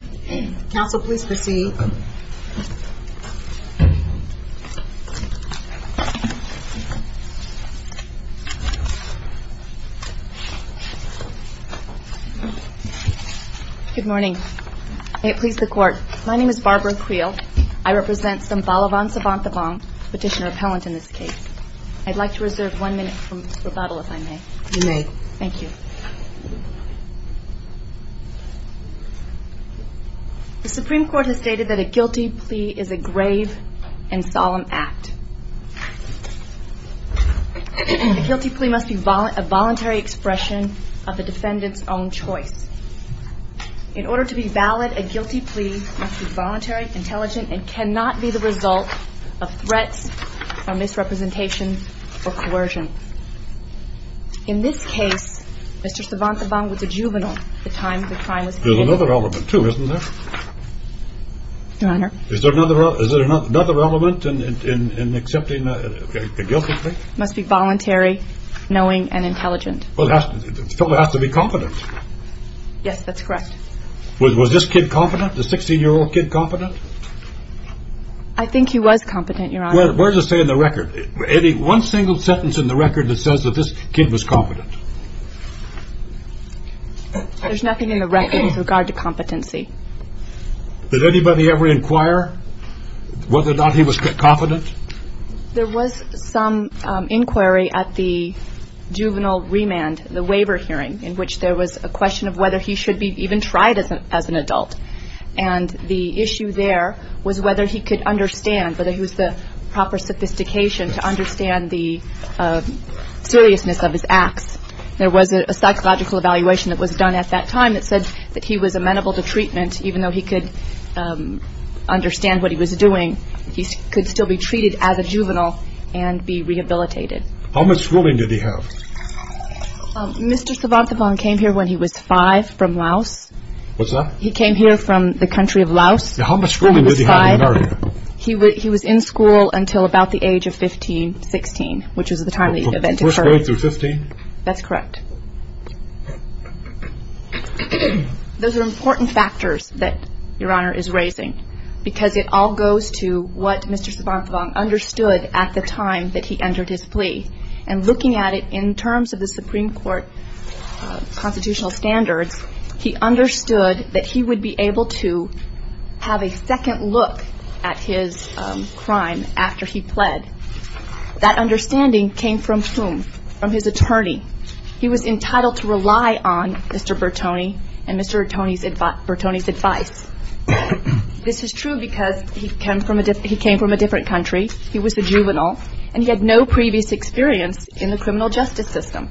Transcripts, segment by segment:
Good morning. May it please the court. My name is Barbara Creel. I represent Sambhalavan Sophanthabong, petitioner appellant in this case. I'd like to reserve one minute for rebuttal if I may. You may. Thank you. The Supreme Court has stated that a guilty plea is a grave and solemn act. A guilty plea must be a voluntary expression of the defendant's own choice. In order to be valid, a guilty plea must be voluntary, intelligent, and cannot be the result of threats or misrepresentation or coercion. In this case, Mr. Sophanthabong was a juvenile of the time the crime was committed. There's another element too, isn't there? Your Honor? Is there another element in accepting a guilty plea? It must be voluntary, knowing, and intelligent. The fella has to be confident. Yes, that's correct. Was this kid confident? The 16-year-old kid confident? I think he was competent, Your Honor. What does it say in the record? Any one single sentence in the record that says that kid was competent? There's nothing in the record with regard to competency. Did anybody ever inquire whether or not he was confident? There was some inquiry at the juvenile remand, the waiver hearing, in which there was a question of whether he should be even tried as an adult. And the issue there was whether he could understand, whether he was the acts. There was a psychological evaluation that was done at that time that said that he was amenable to treatment, even though he could understand what he was doing. He could still be treated as a juvenile and be rehabilitated. How much schooling did he have? Mr. Sophanthabong came here when he was five from Laos. What's that? He came here from the country of Laos. How much schooling did he have in America? He was in school until about the age of 15, 16, which was the time the event occurred. First grade through 15? That's correct. Those are important factors that Your Honor is raising because it all goes to what Mr. Sophanthabong understood at the time that he entered his plea. And looking at it in terms of the Supreme Court constitutional standards, he understood that he would be able to have a That understanding came from whom? From his attorney. He was entitled to rely on Mr. Bertone and Mr. Bertone's advice. This is true because he came from a different country. He was a juvenile and he had no previous experience in the criminal justice system.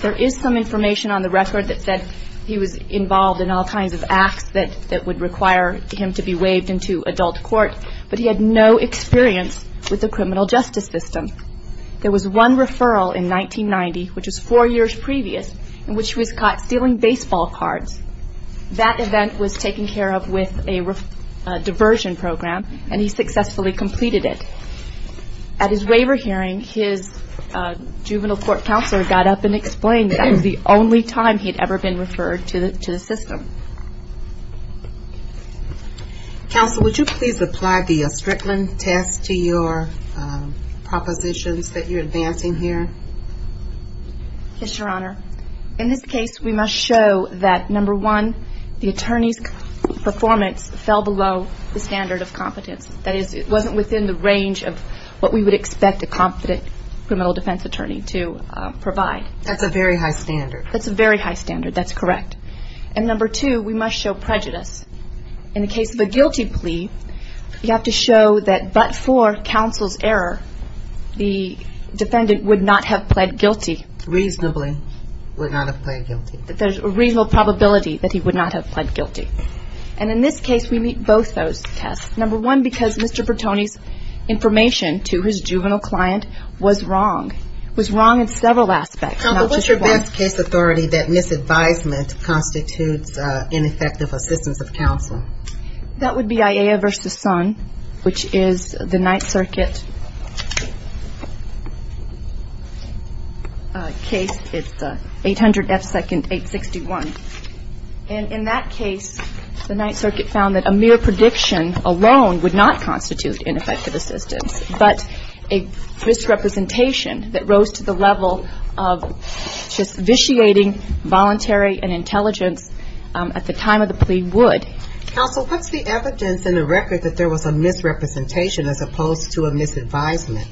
There is some information on the record that said he was involved in all kinds of acts that would require him to be waived into adult court, but he had no experience with the criminal justice system. There was one referral in 1990, which was four years previous, in which he was caught stealing baseball cards. That event was taken care of with a diversion program and he successfully completed it. At his waiver hearing, his juvenile court counselor got up and explained that was the only time he had ever been referred to the system. Counsel, would you please apply the Strickland test to your propositions that you're advancing here? Yes, Your Honor. In this case, we must show that, number one, the attorney's performance fell below the standard of competence. That is, it wasn't within the range of what we would expect a competent criminal defense attorney to provide. That's a very high standard. That's a very high standard. That's correct. And number two, we must show prejudice. In the case of a guilty plea, you have to show that but for counsel's error, the defendant would not have pled guilty. Reasonably would not have pled guilty. That there's a reasonable probability that he would not have pled guilty. And in this case, we meet both those tests. Number one, because Mr. Bertone's juvenile client was wrong. Was wrong in several aspects. Counsel, what's your best case authority that misadvisement constitutes ineffective assistance of counsel? That would be IA versus Sun, which is the Ninth Circuit case. It's 800 F. 2nd, 861. And in that case, the Ninth Circuit found that a mere prediction alone would not constitute ineffective assistance. But a misrepresentation that rose to the level of just vitiating voluntary and intelligence at the time of the plea would. Counsel, what's the evidence in the record that there was a misrepresentation as opposed to a misadvisement?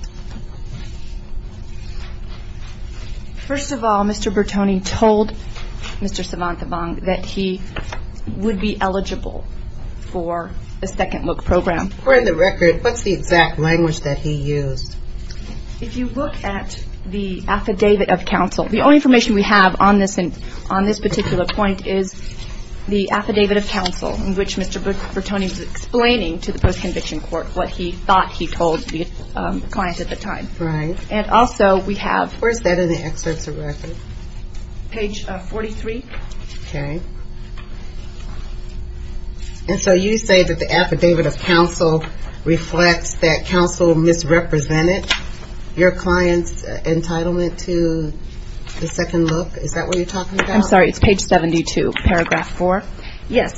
First of all, Mr. Bertone told Mr. Savantabang that he would be eligible for a second look program. According to the record, what's the exact language that he used? If you look at the affidavit of counsel, the only information we have on this particular point is the affidavit of counsel in which Mr. Bertone was explaining to the post-conviction court what he thought he told the client at the time. Right. And also we have. Where's that in the excerpts of And so you say that the affidavit of counsel reflects that counsel misrepresented your client's entitlement to the second look. Is that what you're talking about? I'm sorry. It's page 72, paragraph 4. Yes.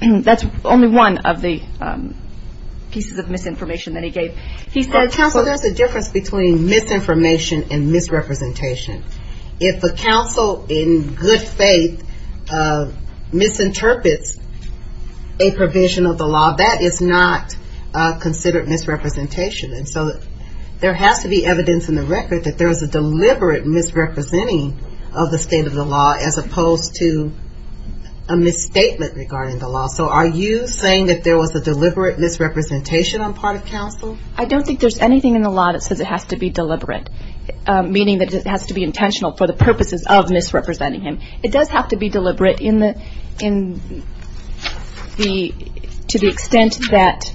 That's only one of the pieces of misinformation that he gave. He said. Counsel, there's a difference between misinformation and misrepresentation. If the counsel in good faith misinterprets a provision of the law, that is not considered misrepresentation. And so there has to be evidence in the record that there is a deliberate misrepresenting of the state of the law as opposed to a misstatement regarding the law. So are you saying that there was a deliberate misrepresentation on part of counsel? I don't think there's anything in the law that says it has to be deliberate, meaning that it has to be intentional for the deliberate to the extent that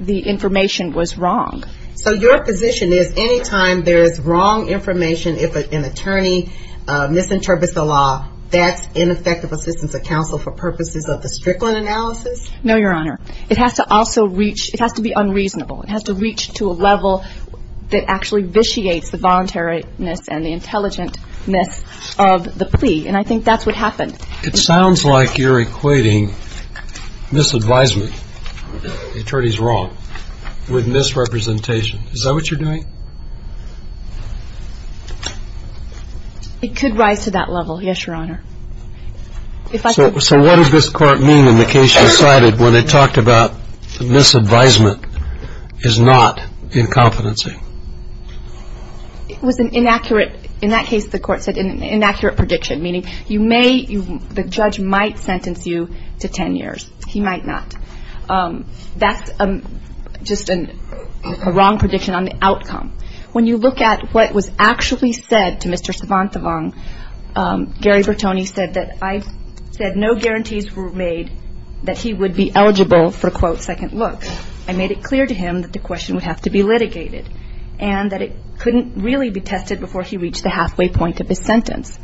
the information was wrong. So your position is anytime there's wrong information, if an attorney misinterprets the law, that's ineffective assistance of counsel for purposes of the Strickland analysis? No, Your Honor. It has to also reach. It has to be unreasonable. It has to reach to a level that actually vitiates the voluntariness and the It sounds like you're equating misadvisement, the attorney's wrong, with misrepresentation. Is that what you're doing? It could rise to that level. Yes, Your Honor. So what does this court mean in the case you cited where they talked about the misadvisement is not incompetency? It was an inaccurate. In that case, the court said an inaccurate prediction, meaning the judge might sentence you to 10 years. He might not. That's just a wrong prediction on the outcome. When you look at what was actually said to Mr. Savantavong, Gary Bertoni said that I've said no guarantees were made that he would be eligible for, quote, second look. I made it clear to him that the question would have to be litigated and that it couldn't really be tested before he reached the halfway point of his sentence.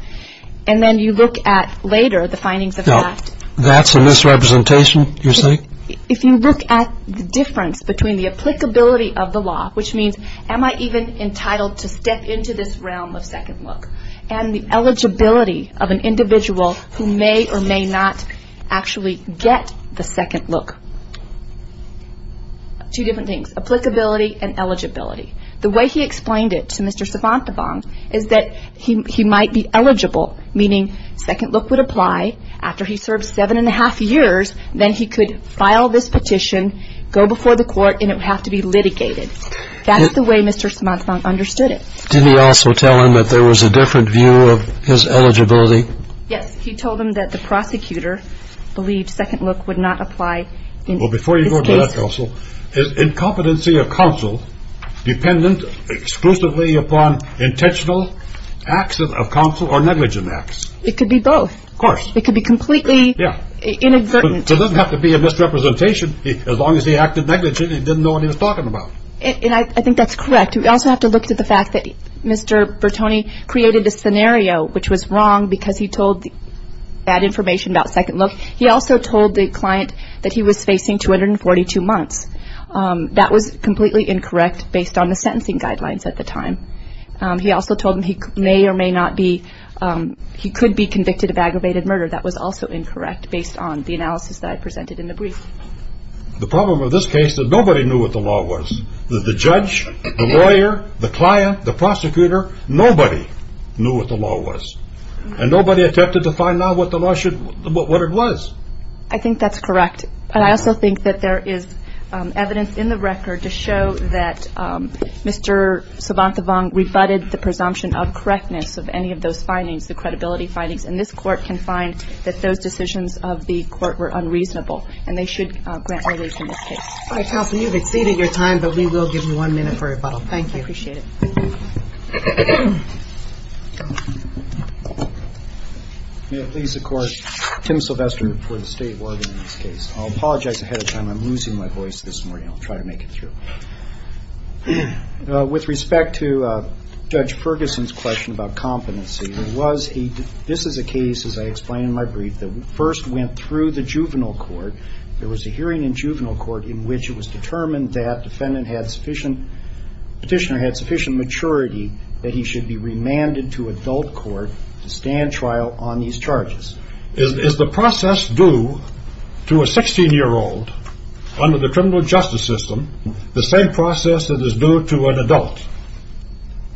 And then you look at later the findings of that. That's a misrepresentation, you say? If you look at the difference between the applicability of the law, which means am I even entitled to step into this realm of second look, and the eligibility of an individual who may or may not actually get the second look. Two different things. Applicability and eligibility. The way he explained it to Mr. Savantavong is that he might be eligible, meaning second look would apply after he served seven and a half years, then he could file this petition, go before the court, and it would have to be litigated. That's the way Mr. Savantavong understood it. Did he also tell him that there was a different view of his eligibility? Yes, he told him that the prosecutor believed second look would not apply. Well, before you go to that, counsel, is incompetency of counsel dependent exclusively upon intentional acts of counsel or negligent acts? It could be both. Of course. It could be completely inexperienced. It doesn't have to be a misrepresentation as long as he acted negligently and didn't know what he was talking about. And I think that's correct. We also have to look to the fact that Mr. Bertoni created a scenario which was wrong because he told that information about second look. He also told the client that he was facing 242 months. That was completely incorrect based on the sentencing guidelines at the time. He also told him he may or may not be, he could be convicted of aggravated murder. That was also incorrect based on the analysis that I presented in the brief. The problem with this case is that nobody knew what the law was. The judge, the lawyer, the client, the prosecutor, nobody knew what the law was. And nobody attempted to find out what the law should, what it was. I think that's correct. But I also think that there is evidence in the record to show that Mr. Savantavong rebutted the presumption of correctness of any of those findings, the credibility findings. And this court can find that those decisions of the court were unreasonable and they should grant release in this case. All right, counsel, you've exceeded your time, but we will give you one minute for rebuttal. Thank you. I appreciate it. May it please the Court, Tim Sylvester for the State of Oregon in this case. I'll apologize ahead of time. I'm losing my voice this morning. I'll try to make it through. With respect to Judge Ferguson's question about competency, was he, this is a case, as I explained in my brief, that first went through the juvenile court. There was a hearing in juvenile court in which it was determined that defendant had sufficient, petitioner had sufficient maturity that he should be remanded to adult court to stand trial on these charges. Is the process due to a 16-year-old under the criminal justice system the same process that is due to an adult?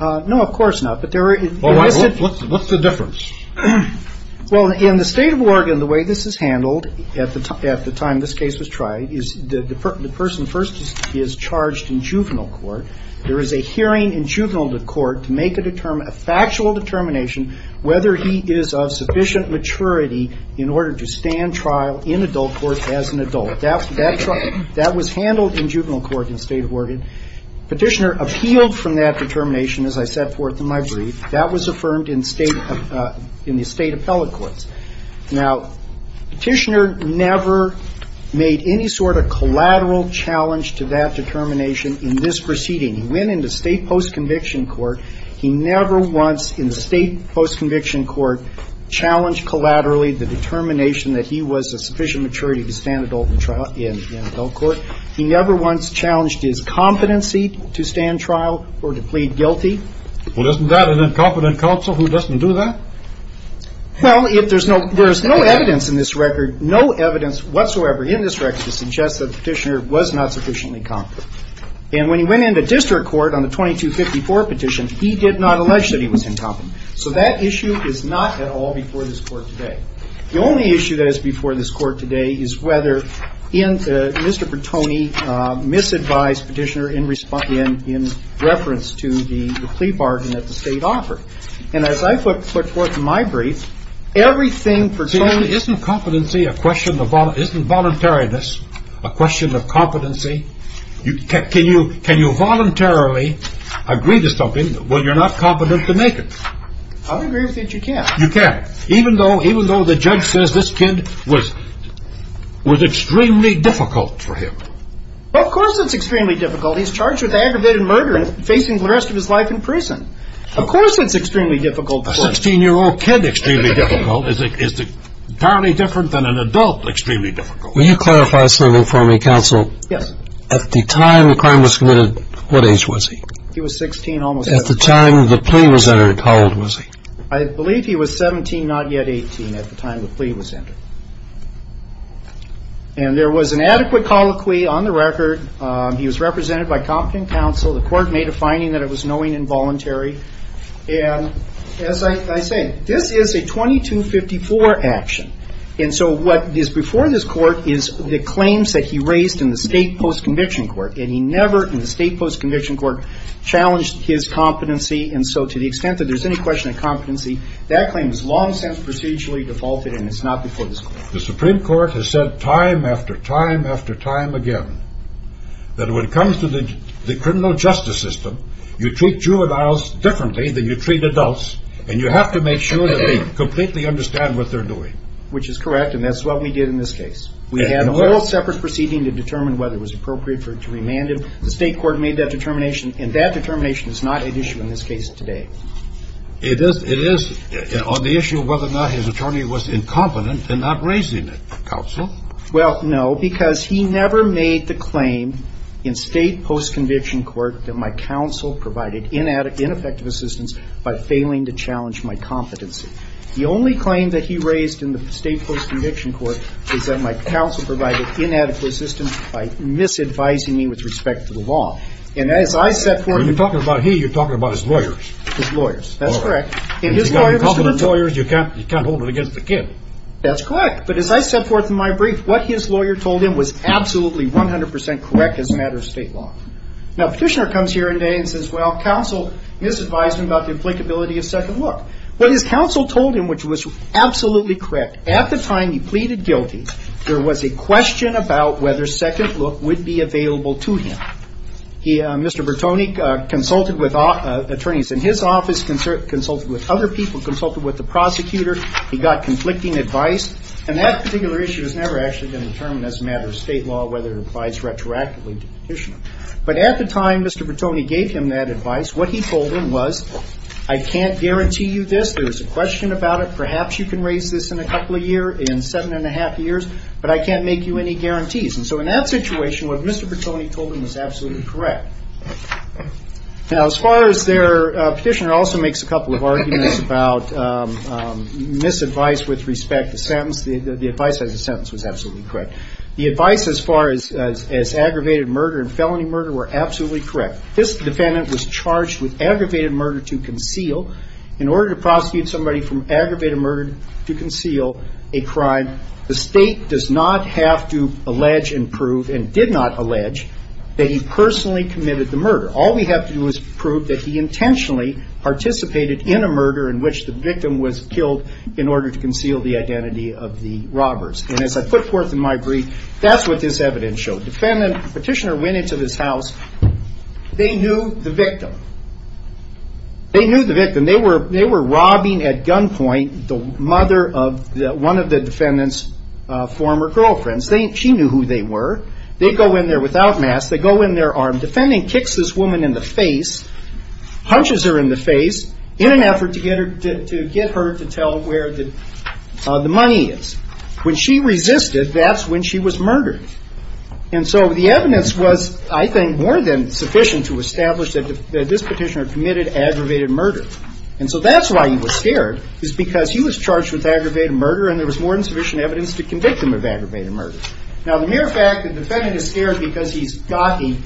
No, of course not. But there is... Well, what's the difference? Well, in the State of Oregon, the way this is handled at the time this case was tried is the person first is charged in juvenile court. There is a hearing in juvenile court to make a factual determination whether he is of sufficient maturity in order to stand trial in adult court as an adult. That was handled in juvenile court in the State of Oregon. Petitioner appealed from that determination, as I set forth in my in the State appellate courts. Now, petitioner never made any sort of collateral challenge to that determination in this proceeding. He went into State post-conviction court. He never once in the State post-conviction court challenged collaterally the determination that he was of sufficient maturity to stand adult in trial in adult court. He never once challenged his competency to stand trial or to plead guilty. Well, isn't that an incompetent counsel who doesn't do that? Well, if there's no evidence in this record, no evidence whatsoever in this record suggests that petitioner was not sufficiently competent. And when he went into district court on the 2254 petition, he did not allege that he was incompetent. So that issue is not at all before this court today. The only issue that is before this court today is whether Mr. Pertoni misadvised petitioner in reference to the plea bargain that the State offered. And as I put forth in my brief, everything Pertoni Isn't competency a question of, isn't voluntariness a question of competency? Can you voluntarily agree to something when you're not competent to make it? I would agree with that you can. You can, even though, even though the judge says this kid was, was extremely difficult for him. Well, of course it's extremely difficult. He's charged with aggravated murder and facing the rest of his life in prison. Of course, it's extremely difficult. A 16 year old kid extremely difficult is entirely different than an adult extremely difficult. Will you clarify something for me, counsel? Yes. At the time the crime was committed, what age was he? He was 16 almost. At the time the plea was entered, how old was he? I believe he was 17, not yet 18 at the time the plea was entered. And there was an adequate colloquy on the record. He was represented by competent counsel. The court made a finding that it was knowing involuntary. And as I say, this is a 2254 action. And so what is before this court is the claims that he raised in the state post-conviction court. And he never in the state post-conviction court challenged his competency. And so to the extent that there's any question of competency, that claim is long since procedurally defaulted and it's not before this court. The Supreme Court has said time after time after time again that when it comes to the criminal justice system, you treat juveniles differently than you treat adults. And you have to make sure that they completely understand what they're doing. Which is correct. And that's what we did in this case. We had a whole separate proceeding to determine whether it was appropriate for it to remand him. The state court made that determination. And that determination is not at issue in this case today. It is on the issue of whether or not his attorney was incompetent in not raising it, counsel. Well, no, because he never made the claim in state post-conviction court that my counsel provided ineffective assistance by failing to challenge my competency. The only claim that he raised in the state post-conviction court is that my counsel provided inadequate assistance by misadvising me with respect to the law. And as I set forth... When you're talking about he, you're talking about his lawyers. His lawyers. That's correct. If you've got incompetent lawyers, you can't hold it against the kid. That's correct. But as I set forth in my brief, what his lawyer told him was absolutely 100% correct as a matter of state law. Now, petitioner comes here today and says, well, counsel misadvised me about the applicability of second look. What his counsel told him, which was absolutely correct, at the time he pleaded guilty, there was a question about whether second look would be available to him. Mr. Bertoni consulted with attorneys in his office, consulted with other people, consulted with the prosecutor. He got conflicting advice. And that particular issue has never actually been determined as a matter of state law, whether it applies retroactively to petitioner. But at the time Mr. Bertoni gave him that advice, what he told him was, I can't guarantee you this. There is a question about it. In seven and a half years, but I can't make you any guarantees. And so in that situation, what Mr. Bertoni told him was absolutely correct. Now, as far as their petitioner also makes a couple of arguments about misadvice with respect to sentence, the advice as a sentence was absolutely correct. The advice as far as aggravated murder and felony murder were absolutely correct. This defendant was charged with aggravated murder to conceal. In order to prosecute somebody from aggravated murder to conceal a crime, the state does not have to allege and prove, and did not allege, that he personally committed the murder. All we have to do is prove that he intentionally participated in a murder in which the victim was killed in order to conceal the identity of the robbers. And as I put forth in my brief, that's what this evidence showed. Defendant, petitioner went into this house. They knew the victim. They knew the victim. They were robbing at gunpoint the mother of one of the defendant's former girlfriends. She knew who they were. They go in there without masks. They go in there armed. Defendant kicks this woman in the face, punches her in the face, in an effort to get her to tell where the money is. When she resisted, that's when she was murdered. This petitioner committed aggravated murder. And so that's why he was scared, is because he was charged with aggravated murder, and there was more than sufficient evidence to convict him of aggravated murder. Now, the mere fact that the defendant is scared because he's got the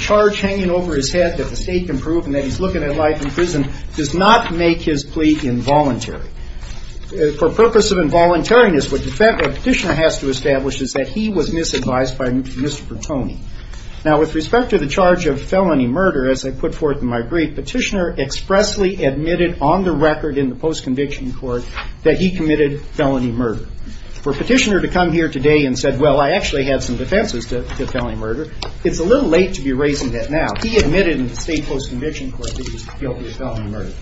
charge hanging over his head that the state can prove and that he's looking at life in prison does not make his plea involuntary. For purpose of involuntariness, what the petitioner has to establish is that he was misadvised by Mr. Bertoni. Now, with respect to the charge of felony murder, as I put forth in my brief, petitioner expressly admitted on the record in the post-conviction court that he committed felony murder. For a petitioner to come here today and say, well, I actually had some defenses to felony murder, it's a little late to be raising that now. He admitted in the state post-conviction court that he was guilty of felony murder.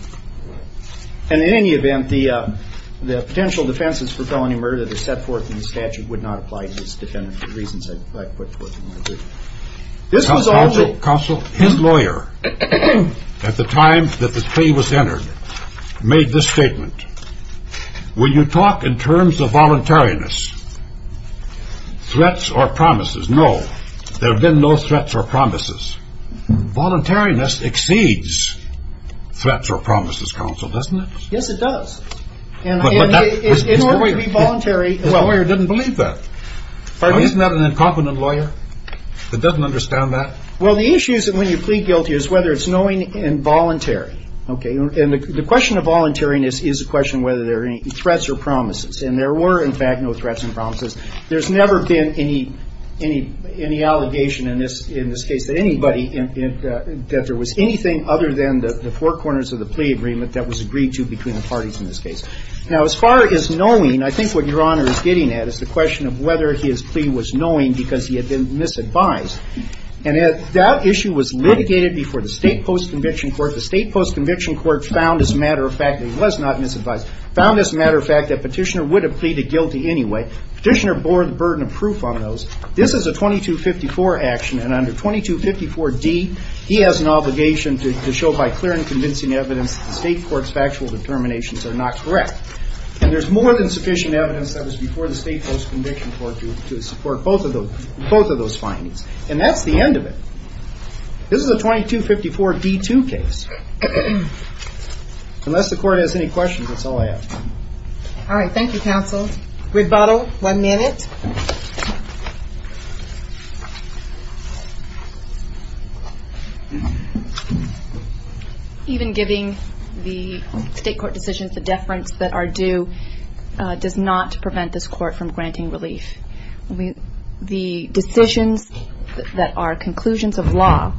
And in any event, the potential defenses for felony murder that are set forth in the statute would not apply to this defendant for the reasons I put forth in my brief. This was all that- Counsel, his lawyer, at the time that this plea was entered, made this statement. Will you talk in terms of voluntariness, threats or promises? No. There have been no threats or promises. Voluntariness exceeds threats or promises, Counsel, doesn't it? Yes, it does. And it's known to be voluntary. The lawyer didn't believe that. Isn't that an incompetent lawyer that doesn't understand that? Well, the issue is that when you plead guilty is whether it's knowing and voluntary, okay? And the question of voluntariness is a question whether there are any threats or promises. And there were, in fact, no threats and promises. There's never been any allegation in this case that anybody, that there was anything other than the four corners of the plea agreement that was agreed to between parties in this case. Now, as far as knowing, I think what Your Honor is getting at is the question of whether his plea was knowing because he had been misadvised. And that issue was litigated before the State Post-Conviction Court. The State Post-Conviction Court found, as a matter of fact, that he was not misadvised, found, as a matter of fact, that Petitioner would have pleaded guilty anyway. Petitioner bore the burden of proof on those. This is a 2254 action. And under 2254d, he has an obligation to show by clear and convincing evidence that the State Court's factual determinations are not correct. And there's more than sufficient evidence that was before the State Post-Conviction Court to support both of those findings. And that's the end of it. This is a 2254d-2 case. Unless the Court has any questions, that's all I have. All right. Thank you, counsel. Rebuttal, one minute. Even giving the State Court decisions the deference that are due does not prevent this court from granting relief. The decisions that are conclusions of law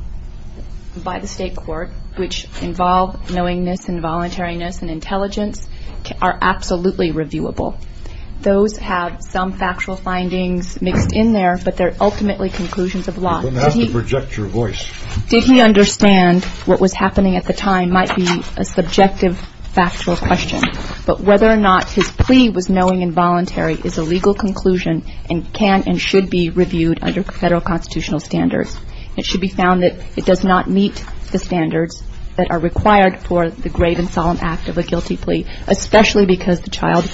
by the State Court, which involve knowingness and voluntariness and intelligence, are absolutely reviewable. Those have some factual facts. Findings mixed in there, but they're ultimately conclusions of law. You don't have to project your voice. Did he understand what was happening at the time might be a subjective, factual question. But whether or not his plea was knowing and voluntary is a legal conclusion and can and should be reviewed under Federal constitutional standards. It should be found that it does not meet the standards that are required for the grave and solemn act of a guilty plea, especially because the child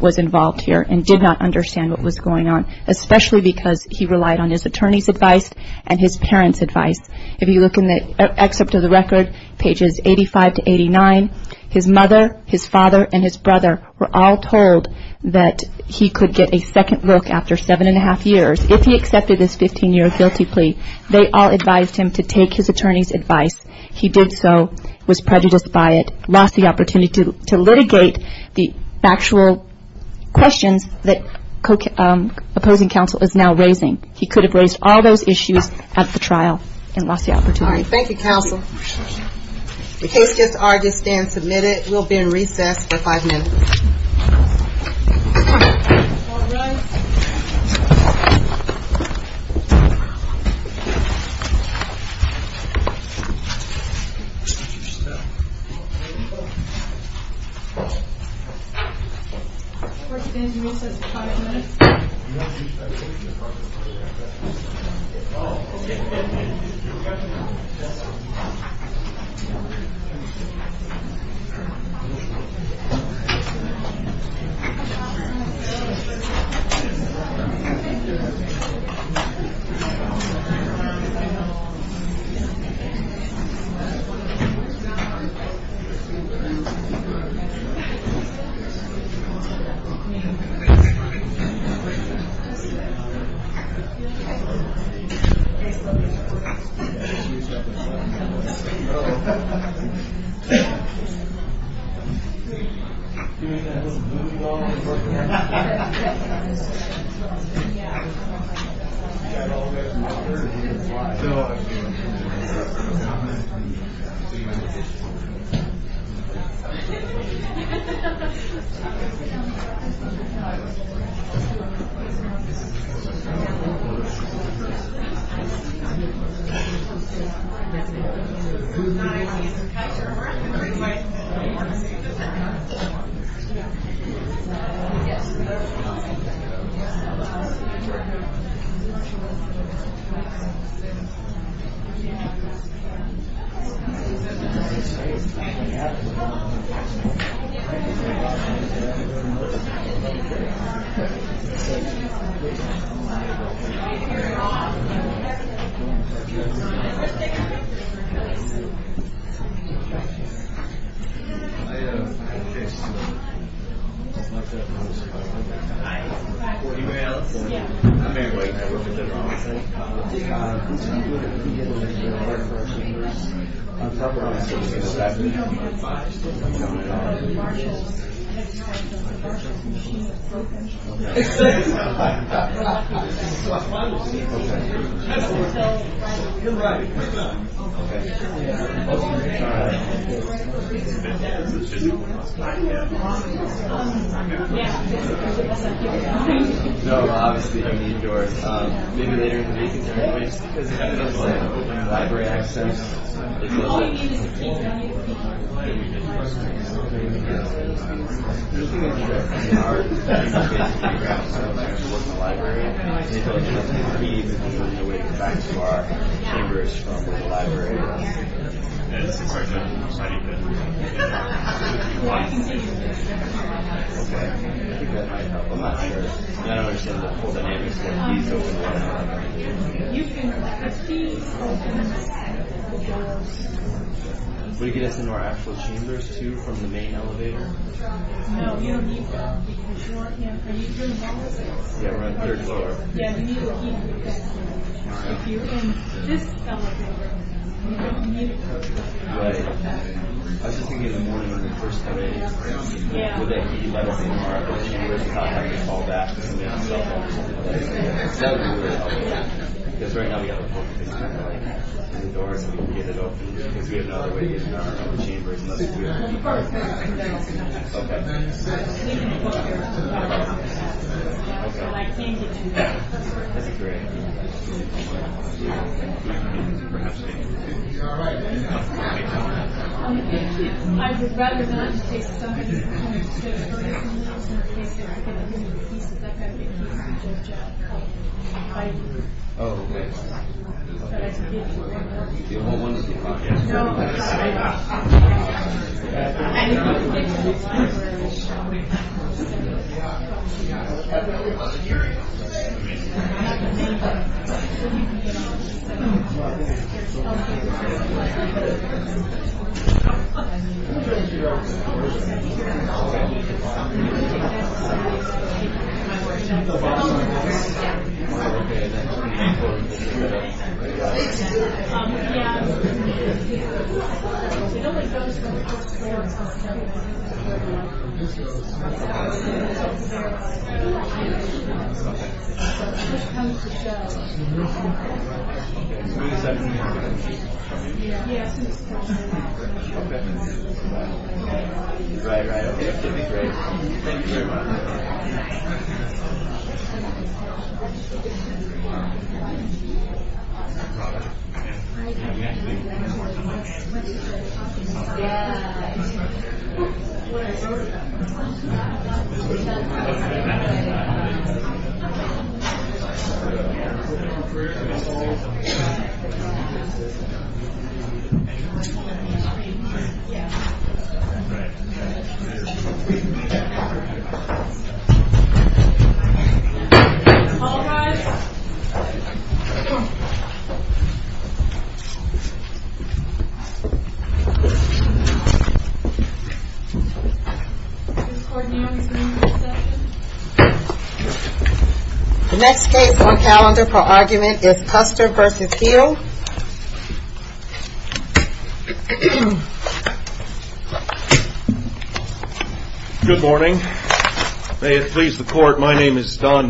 was involved here and did not understand what was going on, especially because he relied on his attorney's advice and his parents' advice. If you look in the excerpt of the record, pages 85 to 89, his mother, his father, and his brother were all told that he could get a second look after seven and a half years if he accepted this 15-year guilty plea. They all advised him to take his attorney's advice. He did so, was prejudiced by it, lost the opportunity to litigate the factual questions that opposing counsel is now raising. He could have raised all those issues at the trial and lost the opportunity. All right. Thank you, counsel. The case just argues stand submitted. We'll be in recess for five minutes. First, we'll be in recess for five minutes. We'll be in recess for five minutes. Can you get us into our actual chambers too from the main elevator? No, you don't need that because you're in the elevator. Yeah, we're on the third floor. Yeah, we need a heater. If you're in this elevator, you don't need a heater. Right. I was just thinking of the morning on the first of May. Yeah. With that heat level in our chambers, it's not going to fall back. It's going to be on the cell phone or something like that. Because that would be really helpful. Yeah. Because right now we have a poker face camera in the door so we can get it open. Because we have no other way to get in our own chambers unless we are in the door. That's a great idea. I would rather not in case somebody is coming to jail early or something. Oh, okay. You don't want one? No. Oh, okay. Thank you. Thank you. Okay. Right, right, okay. That would be great. Thank you very much. All rise. The next case on calendar for argument is Custer versus Hill. Good morning. May it please the court, my name is Don Hill.